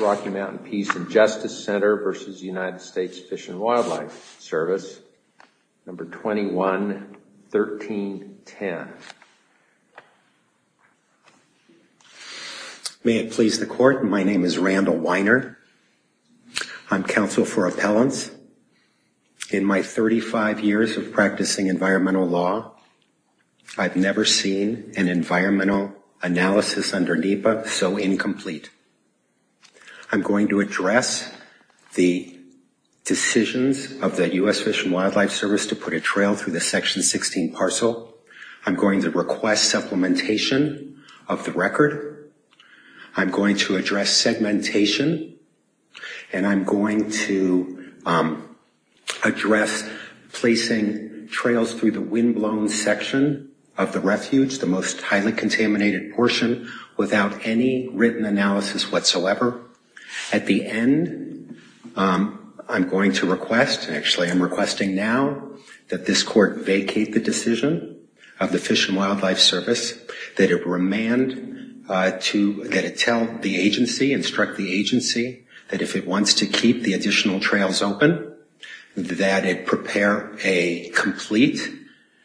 Rocky Mountain Peace & Justice Center v. United States Fish and Wildlife Service, number 21-1310. May it please the court, my name is Randall Weiner. I'm counsel for appellants. In my 35 years of practicing environmental law, I've never seen an environmental analysis under NEPA so I'm going to address the decisions of the U.S. Fish and Wildlife Service to put a trail through the section 16 parcel. I'm going to request supplementation of the record. I'm going to address segmentation and I'm going to address placing trails through the windblown section of the refuge, the most highly contaminated portion, without any written analysis whatsoever. At the end, I'm going to request, actually I'm requesting now, that this court vacate the decision of the Fish and Wildlife Service, that it remand to, that it tell the agency, instruct the agency that if it wants to keep the additional trails open, that it prepare a complete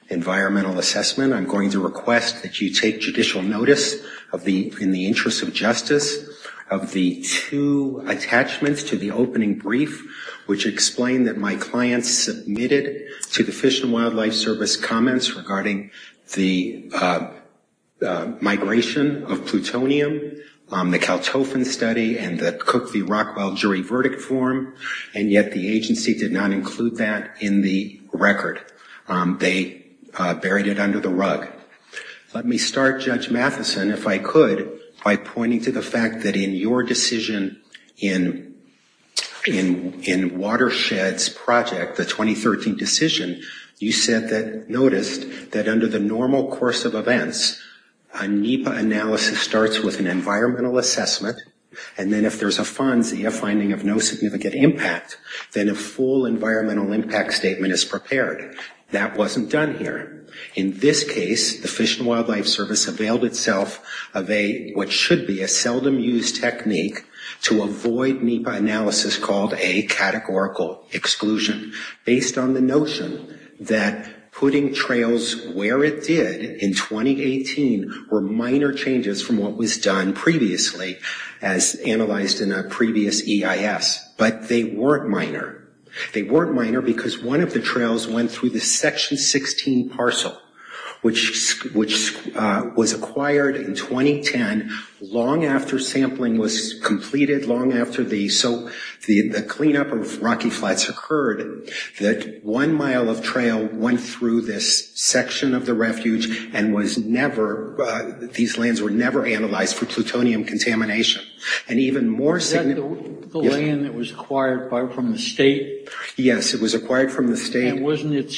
environmental assessment. I'm going to request that you take judicial notice of the, in the interest of justice, of the two attachments to the opening brief which explain that my client submitted to the Fish and Wildlife Service comments regarding the migration of plutonium, the Kaltofen study and the Cook v. under the rug. Let me start, Judge Matheson, if I could, by pointing to the fact that in your decision in Watershed's project, the 2013 decision, you said that, noticed that under the normal course of events, a NEPA analysis starts with an environmental assessment and then if there's a FONSI, a finding of no significant impact, then a full environmental impact statement is prepared. That wasn't done here. In this case, the Fish and Wildlife Service availed itself of a, what should be a seldom used technique to avoid NEPA analysis called a categorical exclusion based on the notion that putting trails where it did in 2018 were minor changes from what was done previously as analyzed in a previous EIS, but they weren't minor. They weren't minor because one of the trails went through the section 16 parcel, which was acquired in 2010, long after sampling was completed, long after the, so the cleanup of Rocky Flats occurred, that one mile of trail went through this section of the refuge and was never, these lands were never analyzed for plutonium contamination. And even more significant the land that was acquired from the state? Yes, it was acquired from the state. And wasn't it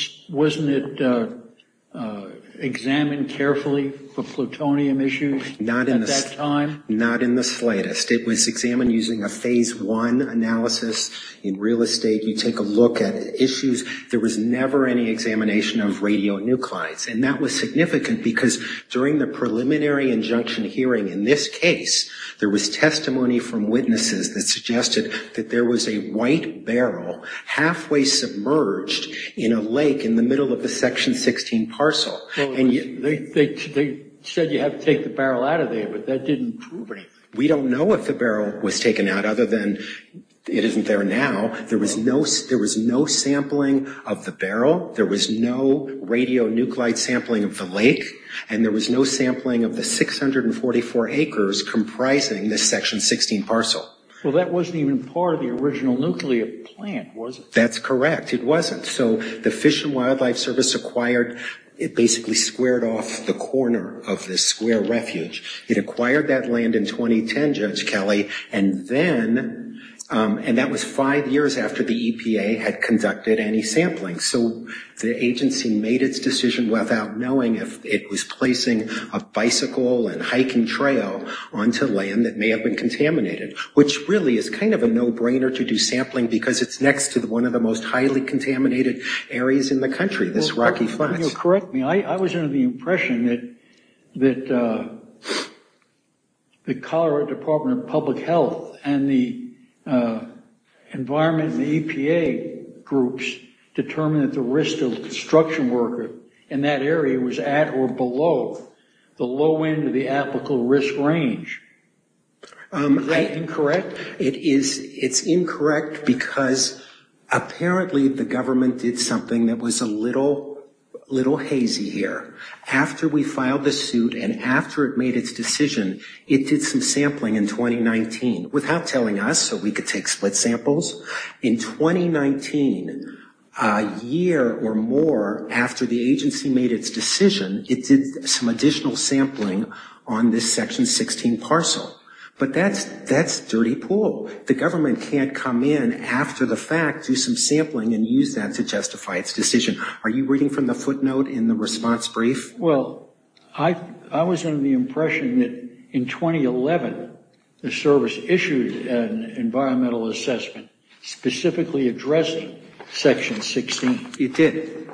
examined carefully for plutonium issues at that time? Not in the slightest. It was examined using a phase one analysis. In real estate, you take a look at issues, there was never any examination of radionuclides and that was significant because during the preliminary injunction hearing in this case, there was testimony from witnesses that suggested that there was a white barrel halfway submerged in a lake in the middle of the section 16 parcel. They said you have to take the barrel out of there, but that didn't prove anything. We don't know if the barrel was taken out other than it isn't there now. There was no sampling of the barrel. There was no radionuclide sampling of the lake. And there was no sampling of the 644 acres comprising this section 16 parcel. Well, that wasn't even part of the original nuclear plant, was it? That's correct. It wasn't. So the Fish and Wildlife Service acquired, it basically squared off the corner of this square refuge. It acquired that land in 2010, Judge Kelly, and then, and that was five years after the EPA had conducted any sampling. So the agency made its decision without knowing if it was placing a bicycle and hiking trail onto land that may have been contaminated, which really is kind of a no-brainer to do sampling because it's next to one of the most highly contaminated areas in the country, this Rocky Flats. You'll correct me. I was under the impression that the Colorado Department of Public Health and the environment and the EPA groups determined that the risk to the construction worker in that area was at or below the low end of the applicable risk range. Is that incorrect? It is. It's incorrect because apparently the government did something that was a little hazy here. After we filed the suit and after it made its decision, it did some sampling in 2019 without telling us so we could take split samples. In 2019, a year or more after the agency made its decision, it did some additional sampling on this section 16 parcel. But that's dirty pool. The government can't come in after the fact, do some sampling and use that to justify its decision. Are you reading from the footnote in the response brief? Well, I was under the impression that in 2011, the service issued an environmental assessment specifically addressing section 16. It did.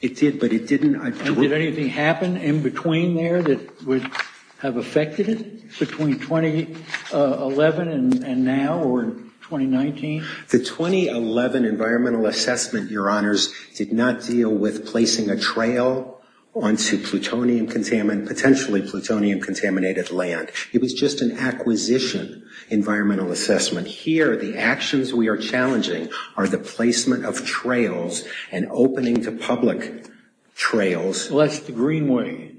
It did, but it didn't. Did anything happen in between there that would have affected it between 2011 and now or 2019? The 2011 environmental assessment, Your Honors, did not deal with placing a trail onto plutonium-contaminated land. It was just an acquisition environmental assessment. Here, the actions we are challenging are the placement of trails and opening to public trails. Well, that's the Greenway.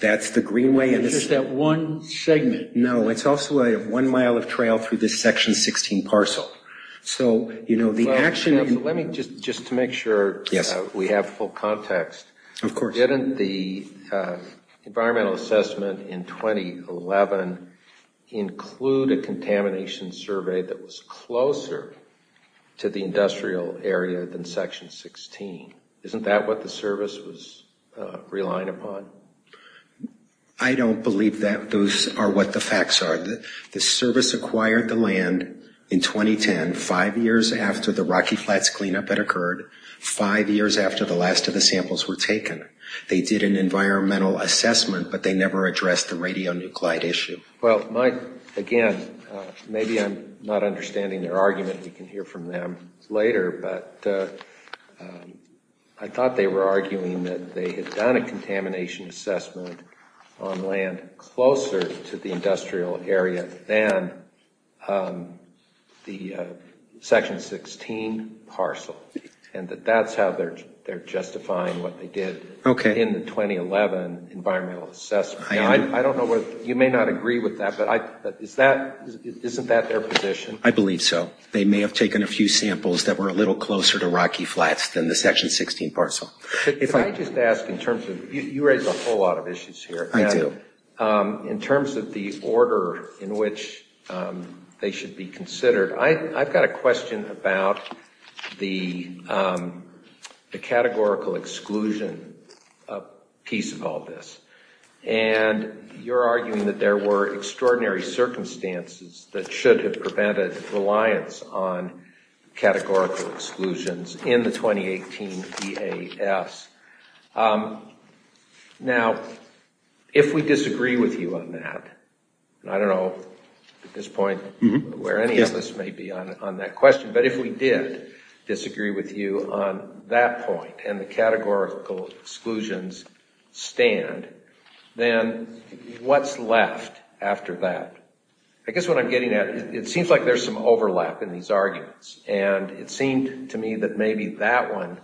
That's the Greenway. It's just that one segment. No, it's also a one-mile of trail through this section 16 parcel. So, you know, the action... Let me just to make sure we have full context. Of course. Didn't the environmental assessment in 2011 include a contamination survey that was closer to the industrial area than section 16? Isn't that what the service was relying upon? I don't believe that those are what the facts are. The service acquired the land in 2010, five years after the Rocky Flats cleanup had occurred, five years after the last of the samples were taken. They did an environmental assessment, but they never addressed the radionuclide issue. Well, again, maybe I'm not understanding their argument. We can hear from them later, but I thought they were arguing that they had done a contamination assessment on land closer to the industrial area than the section 16 parcel, and that that's how they're justifying what they did in the 2011 environmental assessment. Now, I don't know what... You may not agree with that, but isn't that their position? I believe so. They may have taken a few samples that were a little closer to Rocky Flats than the section 16 parcel. If I could just ask in terms of... You raise a whole lot of issues here. I do. In terms of the order in which they should be considered, I've got a question about the categorical exclusion piece of all this. You're arguing that there were extraordinary circumstances that should have prevented reliance on categorical exclusions in the 2018 EAS. Now, if we disagree with you on that, I don't know at this point where any of us may be on that question, but if we did disagree with you on that point and the categorical exclusions stand, then what's left after that? I guess what I'm getting at, it seems like there's some overlap in these arguments, and it seemed to me that maybe that one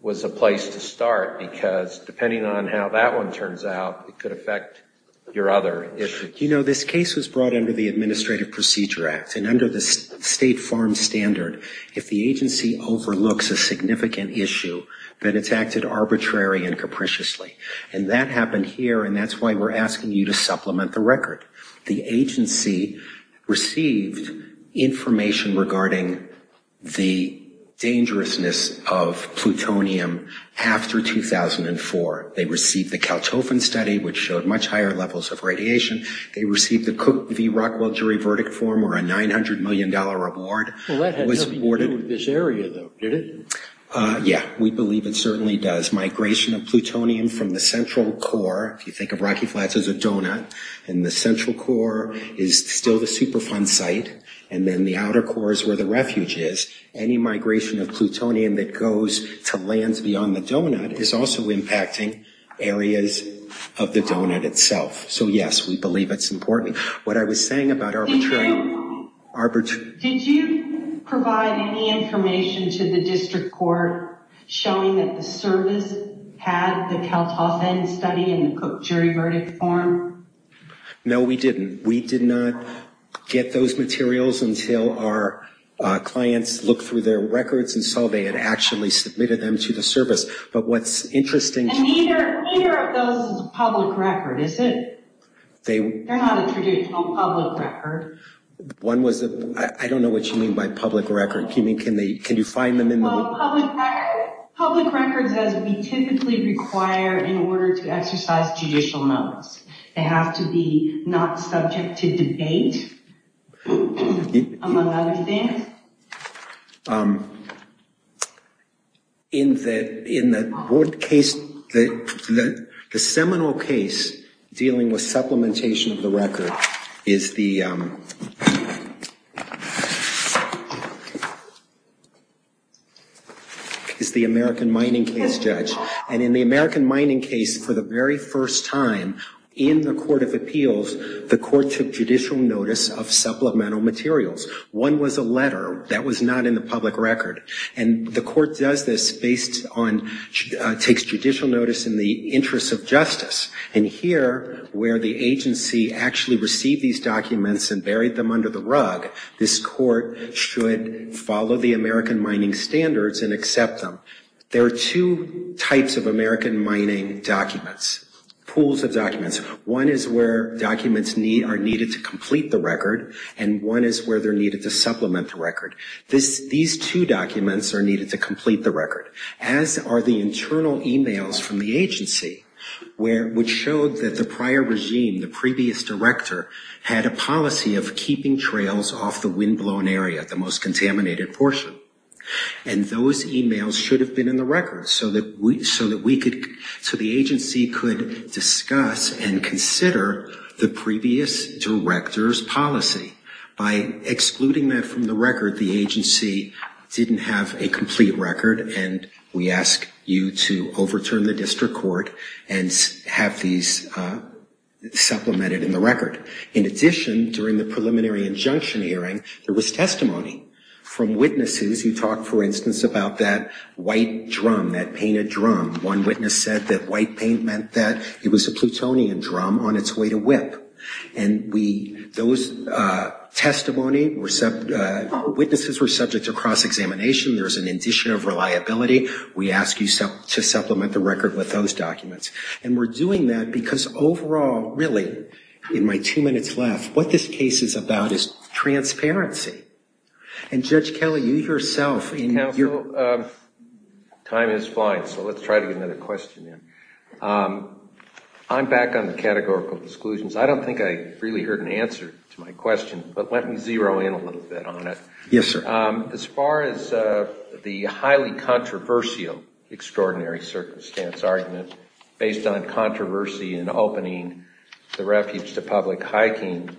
was a place to start, because depending on how that one turns out, it could affect your other issue. This case was brought under the Administrative Procedure Act, and under the State Farm Standard, if the agency overlooks a significant issue, then it's acted arbitrary and capriciously. And that happened here, and that's why we're asking you to supplement the record. The agency received information regarding the dangerousness of plutonium after 2004. They received the Kaltofen study, which showed much higher levels of radiation. They received the Cook v. Rockwell jury verdict form, where a $900 million award was awarded. Well, that had nothing to do with this area, though, did it? Yeah, we believe it certainly does. Migration of plutonium from the central core, if you think of Rocky Flats as a donut, and the central core is still the Superfund site, and then the outer core is where the refuge is, any migration of plutonium that goes to lands beyond the donut is also impacting areas of the donut itself. So, yes, we believe it's important. What I was saying about arbitrary... Did you provide any information to the district court showing that the service had the Kaltofen study and the Cook jury verdict form? No, we didn't. We did not get those materials until our clients looked through their records and saw they had actually submitted them to the service. But what's interesting... And neither of those is a public record, is it? They're not a traditional public record. One was... I don't know what you mean by public record. Can you find them in the... Public records, as we typically require in order to exercise judicial notice. They have to be not subject to debate, among other things. So, in the board case, the seminal case dealing with supplementation of the record is the... Is the American Mining Case, Judge. And in the American Mining Case, for the very first time in the Court of Appeals, the court took judicial notice of supplemental materials. One was a letter that was not in the public record. And the court does this based on... Takes judicial notice in the interest of justice. And here, where the agency actually received these documents and buried them under the rug, this court should follow the American mining standards and accept them. There are two types of American mining documents. Pools of documents. One is where documents are needed to complete the record. And one is where they're needed to supplement the record. These two documents are needed to complete the record. As are the internal e-mails from the agency, which showed that the prior regime, the previous director, had a policy of keeping trails off the windblown area, the most contaminated portion. And those e-mails should have been in the record so that we could... By excluding that from the record, the agency didn't have a complete record. And we ask you to overturn the district court and have these supplemented in the record. In addition, during the preliminary injunction hearing, there was testimony from witnesses. You talked, for instance, about that white drum, that painted drum. One witness said that white paint meant that it was a plutonium drum on its way to whip. And those testimony, witnesses were subject to cross-examination. There's an addition of reliability. We ask you to supplement the record with those documents. And we're doing that because overall, really, in my two minutes left, what this case is about is transparency. And Judge Kelly, you yourself... Counsel, time is flying, so let's try to get another question in. I'm back on the categorical exclusions. I don't think I really heard an answer to my question, but let me zero in a little bit on it. Yes, sir. As far as the highly controversial extraordinary circumstance argument based on controversy in opening the refuge to public hiking,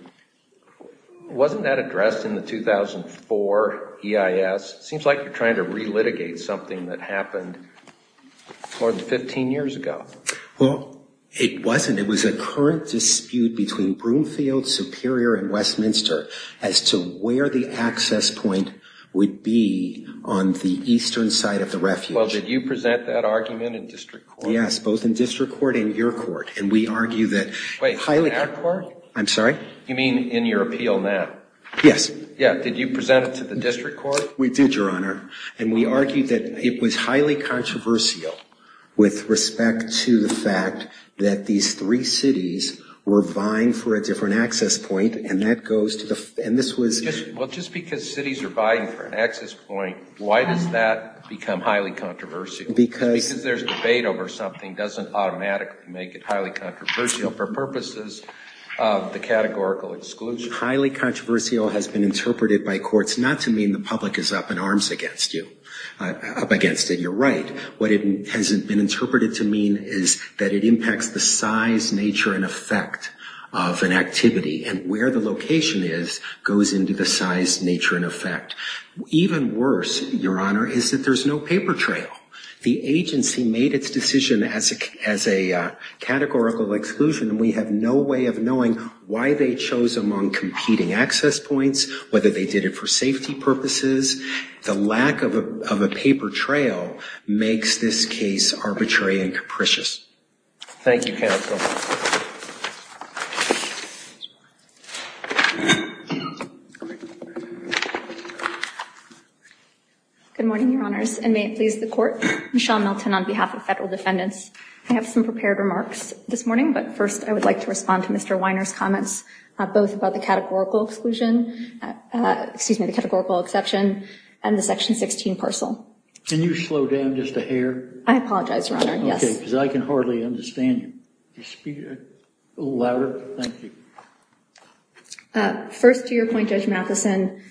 wasn't that addressed in the 2004 EIS? Seems like you're trying to re-litigate something that happened more than 15 years ago. Well, it wasn't. It was a current dispute between Broomfield, Superior, and Westminster as to where the access point would be on the eastern side of the refuge. Well, did you present that argument in district court? Yes, both in district court and your court. And we argue that... Wait, our court? I'm sorry? You mean in your appeal now? Yes. Yeah, did you present it to the district court? We did, Your Honor. And we argued that it was highly controversial with respect to the fact that these three cities were vying for a different access point, and that goes to the... And this was... Well, just because cities are vying for an access point, why does that become highly controversial? Because... Because there's debate over something doesn't automatically make it highly controversial for purposes of the categorical exclusion. Highly controversial has been interpreted by courts not to mean the public is up in arms against you, up against it. You're right. What it has been interpreted to mean is that it impacts the size, nature, and effect of an activity, and where the location is goes into the size, nature, and effect. Even worse, Your Honor, is that there's no paper trail. The agency made its decision as a categorical exclusion, and we have no way of knowing why they chose among competing access points, whether they did it for safety purposes. The lack of a paper trail makes this case arbitrary and capricious. Thank you, counsel. Good morning, Your Honors, and may it please the Court. Michelle Milton on behalf of federal defendants. I have some prepared remarks this morning, but first I would like to respond to Mr. Weiner's comments, both about the categorical exclusion... and the Section 16 parcel. Can you slow down just a hair? I apologize, Your Honor. Yes. Okay, because I can hardly understand you. Can you speak a little louder? Thank you. First, to your point, Judge Matheson,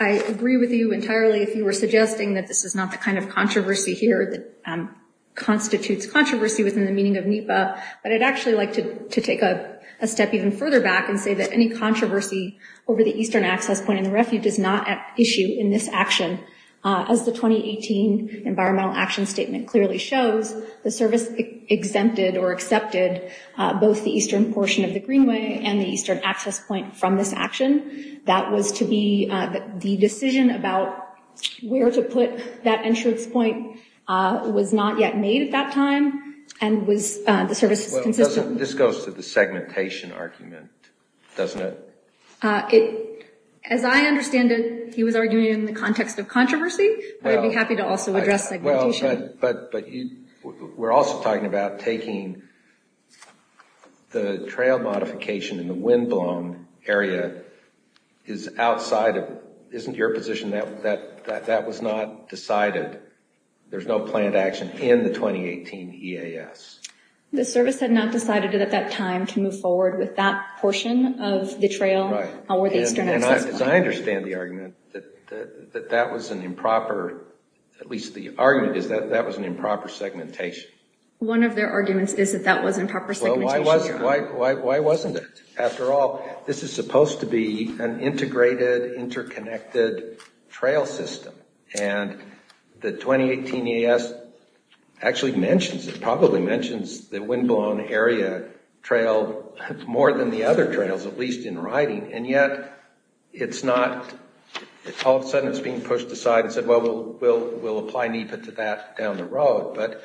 I agree with you entirely if you were suggesting that this is not the kind of controversy here that constitutes controversy within the meaning of NEPA, but I'd actually like to take a step even further back and say that any controversy over the eastern access point in the Refuge is not at issue in this action. As the 2018 Environmental Action Statement clearly shows, the service exempted or accepted both the eastern portion of the Greenway and the eastern access point from this action. That was to be the decision about where to put that entrance point was not yet made at that time, and the service is consistent. This goes to the segmentation argument, doesn't it? It... as I understand it, he was arguing in the context of controversy, but I'd be happy to also address segmentation. But we're also talking about taking... the trail modification in the windblown area is outside of... isn't your position that that was not decided? There's no planned action in the 2018 EAS? The service had not decided at that time to move forward with that portion of the trail. The eastern access point. I understand the argument that that was an improper... at least the argument is that that was an improper segmentation. One of their arguments is that that was improper segmentation. Why wasn't it? After all, this is supposed to be an integrated, interconnected trail system, and the 2018 EAS actually mentions, it probably mentions the windblown area trail more than the other trails, at least in writing. And yet, it's not... all of a sudden it's being pushed aside and said, well, we'll apply NEPA to that down the road. But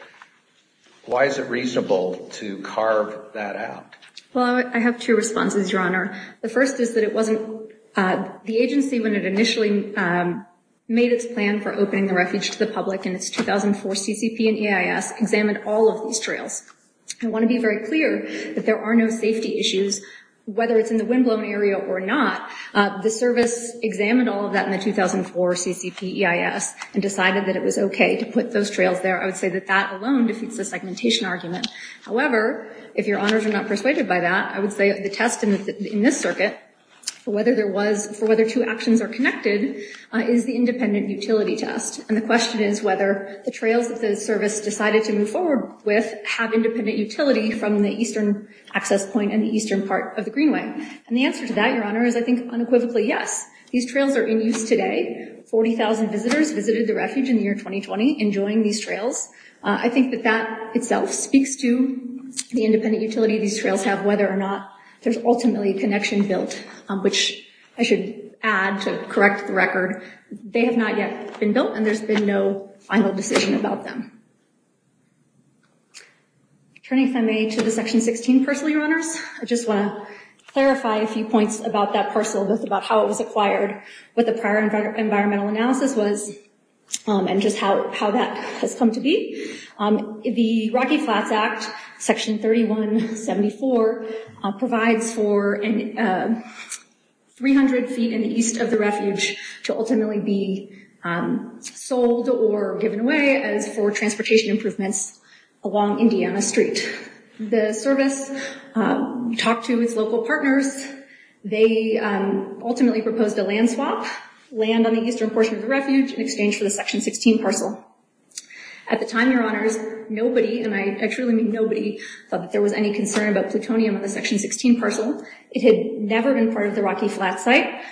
why is it reasonable to carve that out? Well, I have two responses, Your Honor. The first is that it wasn't... the agency, when it initially made its plan for opening the refuge to the public in its 2004 CCP and EIS, examined all of these trails. I want to be very clear that there are no safety issues, whether it's in the windblown area or not. The service examined all of that in the 2004 CCP EIS and decided that it was okay to put those trails there. I would say that that alone defeats the segmentation argument. However, if Your Honors are not persuaded by that, I would say the test in this circuit for whether there was... for whether two actions are connected is the independent utility test. And the question is whether the trails that the service decided to move forward with have independent utility from the eastern access point and the eastern part of the Greenway. And the answer to that, Your Honor, is I think unequivocally, yes. These trails are in use today. 40,000 visitors visited the refuge in the year 2020 enjoying these trails. I think that that itself speaks to the independent utility these trails have, whether or not there's ultimately a connection built, which I should add to correct the record. They have not yet been built and there's been no final decision about them. Turning, if I may, to the Section 16 parcel, Your Honors. I just want to clarify a few points about that parcel, both about how it was acquired, what the prior environmental analysis was, and just how that has come to be. The Rocky Flats Act, Section 3174, provides for 300 feet in the east of the refuge to ultimately be sold or given away as for transportation improvements along Indiana Street. The service talked to its local partners. They ultimately proposed a land swap, land on the eastern portion of the refuge in exchange for the Section 16 parcel. At the time, Your Honors, nobody, and I truly mean nobody, thought that there was any concern about plutonium on the Section 16 parcel. It had never been part of the Rocky Flats site.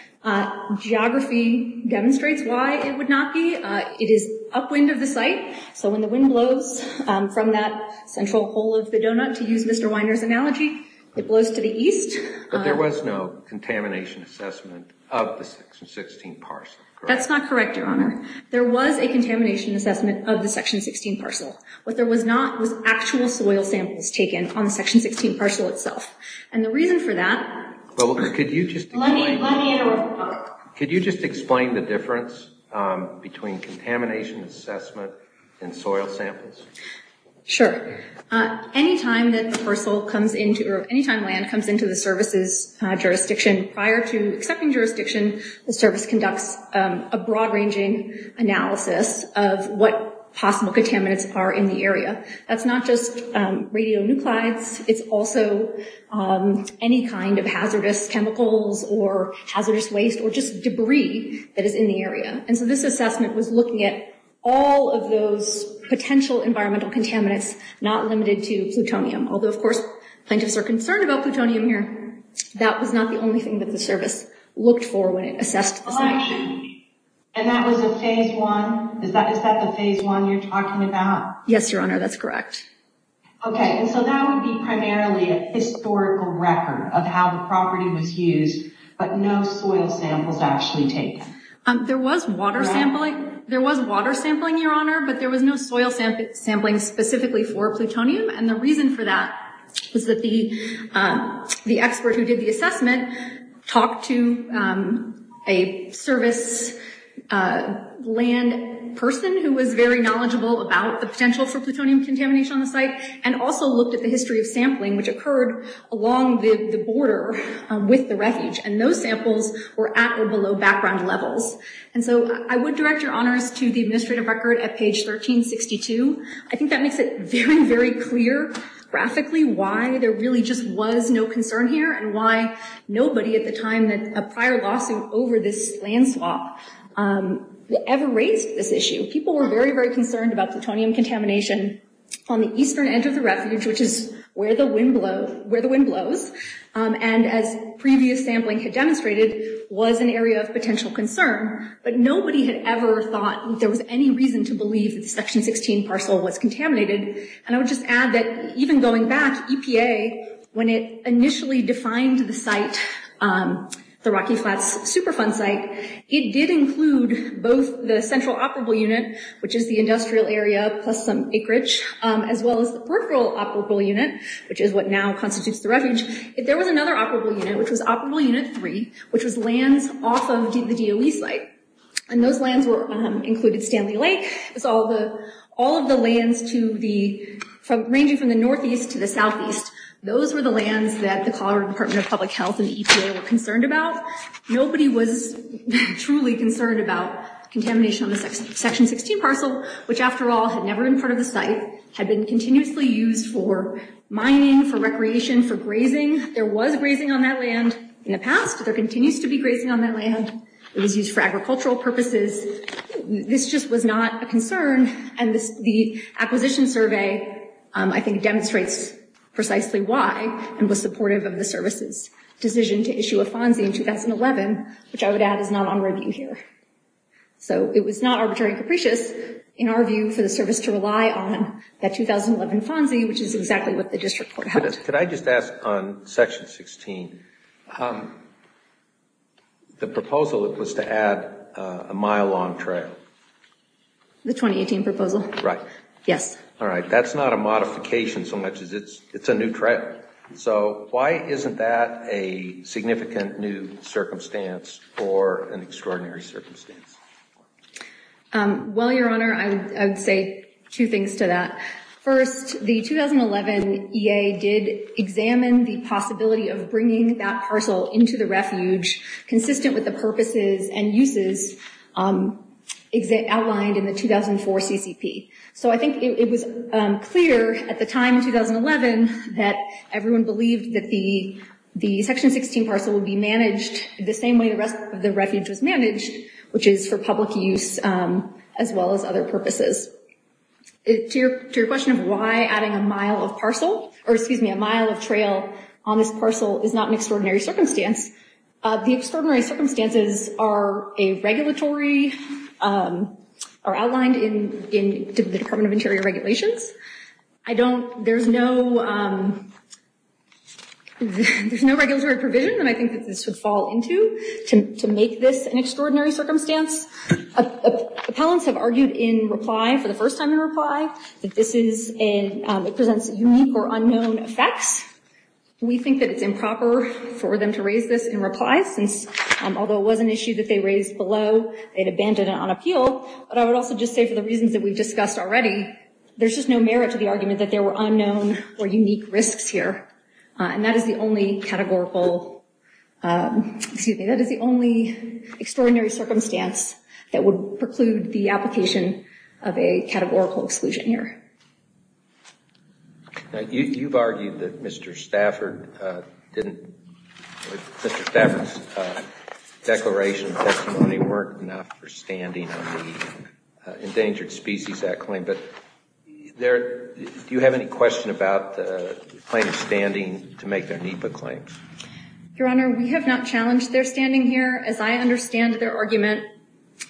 Geography demonstrates why it would not be. It is upwind of the site, so when the wind blows from that central hole of the donut, to use Mr. Weiner's analogy, it blows to the east. But there was no contamination assessment of the Section 16 parcel, correct? That's not correct, Your Honor. There was a contamination assessment of the Section 16 parcel. What there was not was actual soil samples taken on the Section 16 parcel itself. And the reason for that... Could you just explain the difference between contamination assessment and soil samples? Sure. Any time that the parcel comes into, or any time land comes into the service's jurisdiction prior to accepting jurisdiction, the service conducts a broad-ranging analysis of what possible contaminants are in the area. That's not just radionuclides. It's also any kind of hazardous chemicals, or hazardous waste, or just debris that is in the area. And so this assessment was looking at all of those potential environmental contaminants, not limited to plutonium. Although, of course, plaintiffs are concerned about plutonium here. That was not the only thing that the service looked for when it assessed the section. And that was a Phase 1? Is that the Phase 1 you're talking about? Yes, Your Honor. That's correct. Okay. And so that would be primarily a historical record of how the property was used, but no soil samples actually taken. There was water sampling, Your Honor, but there was no soil sampling specifically for plutonium. And the reason for that was that the expert who did the assessment talked to a service land person who was very knowledgeable about the potential for plutonium contamination on the site, and also looked at the history of sampling, which occurred along the border with the refuge. And those samples were at or below background levels. And so I would direct Your Honors to the administrative record at page 1362. I think that makes it very, very clear graphically why there really just was no concern here, and why nobody at the time, a prior lawsuit over this land swap, ever raised this issue. People were very, very concerned about plutonium contamination on the eastern end of the refuge, which is where the wind blows. And as previous sampling had demonstrated, was an area of potential concern. But nobody had ever thought that there was any reason to believe that the Section 16 parcel was contaminated. And I would just add that even going back, EPA, when it initially defined the site, the Rocky Flats Superfund site, it did include both the central operable unit, which is the industrial area, plus some acreage, as well as the peripheral operable unit, which is what now constitutes the refuge. If there was another operable unit, which was Operable Unit 3, which was lands off of the DOE site, and those lands included Stanley Lake. All of the lands ranging from the northeast to the southeast, those were the lands that the Colorado Department of Public Health and the EPA were concerned about. Nobody was truly concerned about contamination on the Section 16 parcel, which, after all, had never been part of the site, had been continuously used for mining, for recreation, for grazing. There was grazing on that land in the past. There continues to be grazing on that land. It was used for agricultural purposes. This just was not a concern. I think, demonstrates precisely why and was supportive of the service's decision to issue a FONSI in 2011, which I would add is not on review here. It was not arbitrary and capricious, in our view, for the service to rely on that 2011 FONSI, which is exactly what the District Court held. Could I just ask on Section 16, the proposal was to add a mile-long trail? The 2018 proposal? Right. Yes. All right. That's not a modification so much as it's a new trail. So why isn't that a significant new circumstance or an extraordinary circumstance? Well, Your Honor, I would say two things to that. First, the 2011 EA did examine the possibility of bringing that parcel into the refuge consistent with the purposes and uses outlined in the 2004 CCP. So I think it was clear at the time, 2011, that everyone believed that the Section 16 parcel would be managed the same way the rest of the refuge was managed, which is for public use as well as other purposes. To your question of why adding a mile of parcel, or excuse me, a mile of trail on this parcel is not an extraordinary circumstance, the extraordinary circumstances are a regulatory, are outlined in the Department of Interior regulations. I don't, there's no, there's no regulatory provision that I think that this would fall into to make this an extraordinary circumstance. Appellants have argued in reply, for the first time in reply, that this is a, it presents unique or unknown effects. We think that it's improper for them to raise this in reply since, although it was an issue that they raised below, they had abandoned it on appeal. But I would also just say for the reasons that we've discussed already, there's just no merit to the argument that there were unknown or unique risks here. And that is the only categorical, excuse me, that is the only extraordinary circumstance that would preclude the application of a categorical exclusion here. Now, you've argued that Mr. Stafford didn't, Mr. Stafford's declaration of testimony weren't enough for standing on the Endangered Species Act claim, but do you have any question about the claim of standing to make their NEPA claim? Your Honor, we have not challenged their standing here. As I understand their argument,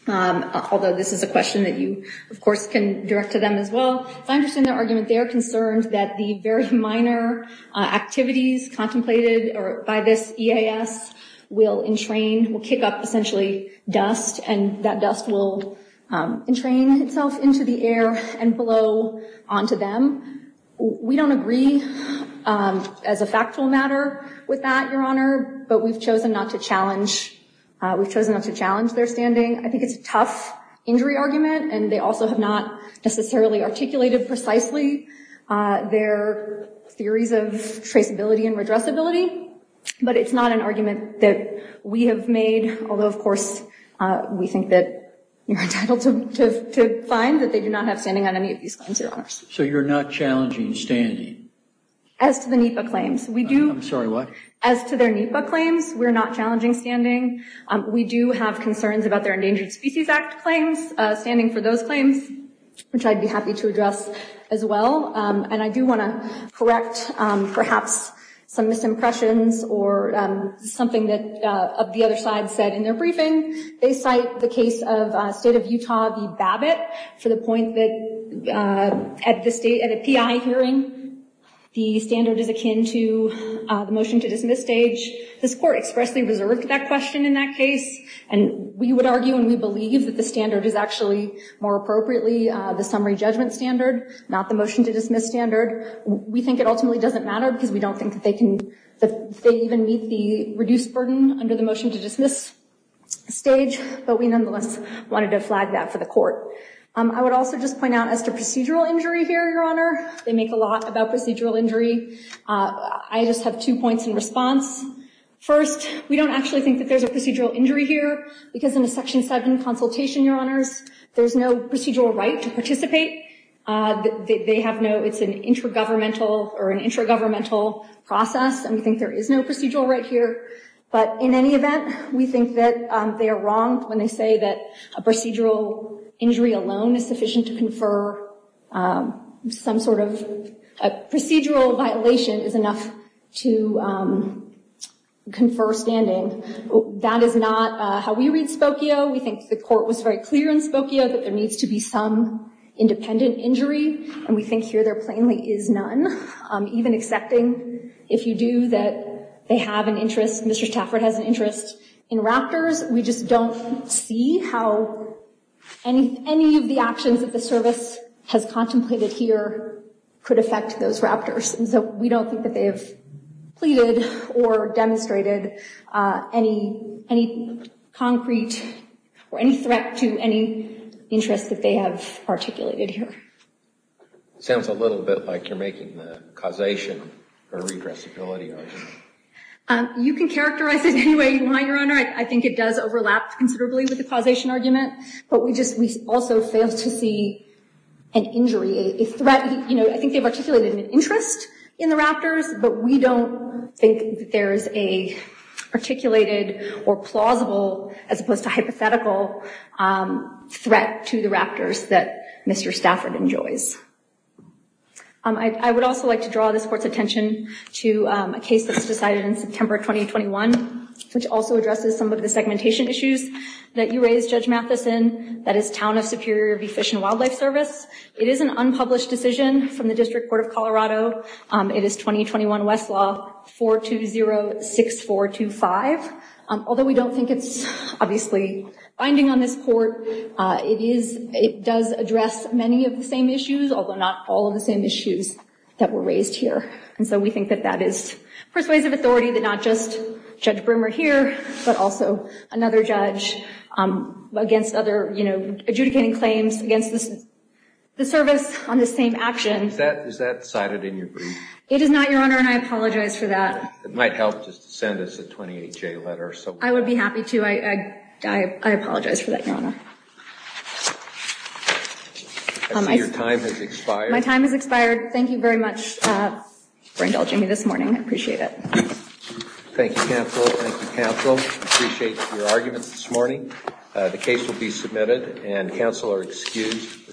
although this is a question that you, of course, can direct to them as well, if I understand their argument, they are concerned that the very minor activities contemplated by this EAS will entrain, will kick up essentially dust, and that dust will entrain itself into the air and blow onto them. We don't agree as a factual matter with that, Your Honor, but we've chosen not to challenge, we've chosen not to challenge their standing. I think it's a tough injury argument, and they also have not necessarily articulated precisely their theories of traceability and redressability, but it's not an argument that we have made. Although, of course, we think that you're entitled to find that they do not have standing on any of these claims, Your Honor. So you're not challenging standing? As to the NEPA claims, we do. I'm sorry, what? As to their NEPA claims, we're not challenging standing. We do have concerns about their Endangered Species Act claims, standing for those claims, which I'd be happy to address as well. And I do want to correct perhaps some misimpressions or something that the other side said in their briefing. They cite the case of State of Utah v. Babbitt for the point that at a PI hearing, the standard is akin to the motion-to-dismiss stage. This Court expressly reserved that question in that case, and we would argue and we believe that the standard is actually more appropriately the summary judgment standard, not the motion-to-dismiss standard. We think it ultimately doesn't matter because we don't think that they even meet the reduced burden under the motion-to-dismiss stage, but we nonetheless wanted to flag that for the Court. I would also just point out, as to procedural injury here, Your Honor, they make a lot about procedural injury. I just have two points in response. First, we don't actually think that there's a procedural injury here because in a Section 7 consultation, Your Honors, there's no procedural right to participate. They have no, it's an intergovernmental or an intragovernmental process, and we think there is no procedural right here. But in any event, we think that they are wrong when they say that a procedural injury alone is sufficient to confer some sort of, a procedural violation is enough to confer standing. That is not how we read Spokio. We think the Court was very clear in Spokio that there needs to be some independent injury, and we think here there plainly is none. Even accepting, if you do, that they have an interest, Mr. Stafford has an interest in raptors, we just don't see how any of the actions that the service has contemplated here could affect those raptors. And so we don't think that they have pleaded or demonstrated any concrete or any threat to any interest that they have articulated here. It sounds a little bit like you're making the causation or redressability argument. You can characterize it any way you want, Your Honor. I think it does overlap considerably with the causation argument, but we also fail to see an injury, a threat. I think they've articulated an interest in the raptors, but we don't think that there's a articulated or plausible as opposed to hypothetical threat to the raptors that Mr. Stafford enjoys. I would also like to draw this Court's attention to a case that was decided in September 2021, which also addresses some of the segmentation issues that you raised, Judge Mathison, that is Town of Superior Bee, Fish, and Wildlife Service. It is an unpublished decision from the District Court of Colorado. It is 2021 Westlaw 420-6425. Although we don't think it's, obviously, binding on this Court, it does address many of the same issues although not all of the same issues that were raised here. And so we think that that is persuasive authority that not just Judge Broomer here, but also another judge against other, you know, adjudicating claims against the service on the same action. Is that cited in your brief? It is not, Your Honor, and I apologize for that. It might help just to send us a 28-J letter. I would be happy to. I apologize for that, Your Honor. I see your time has expired. My time has expired. Thank you very much for indulging me this morning. I appreciate it. Thank you, counsel. Thank you, counsel. I appreciate your arguments this morning. The case will be submitted and counsel are excused.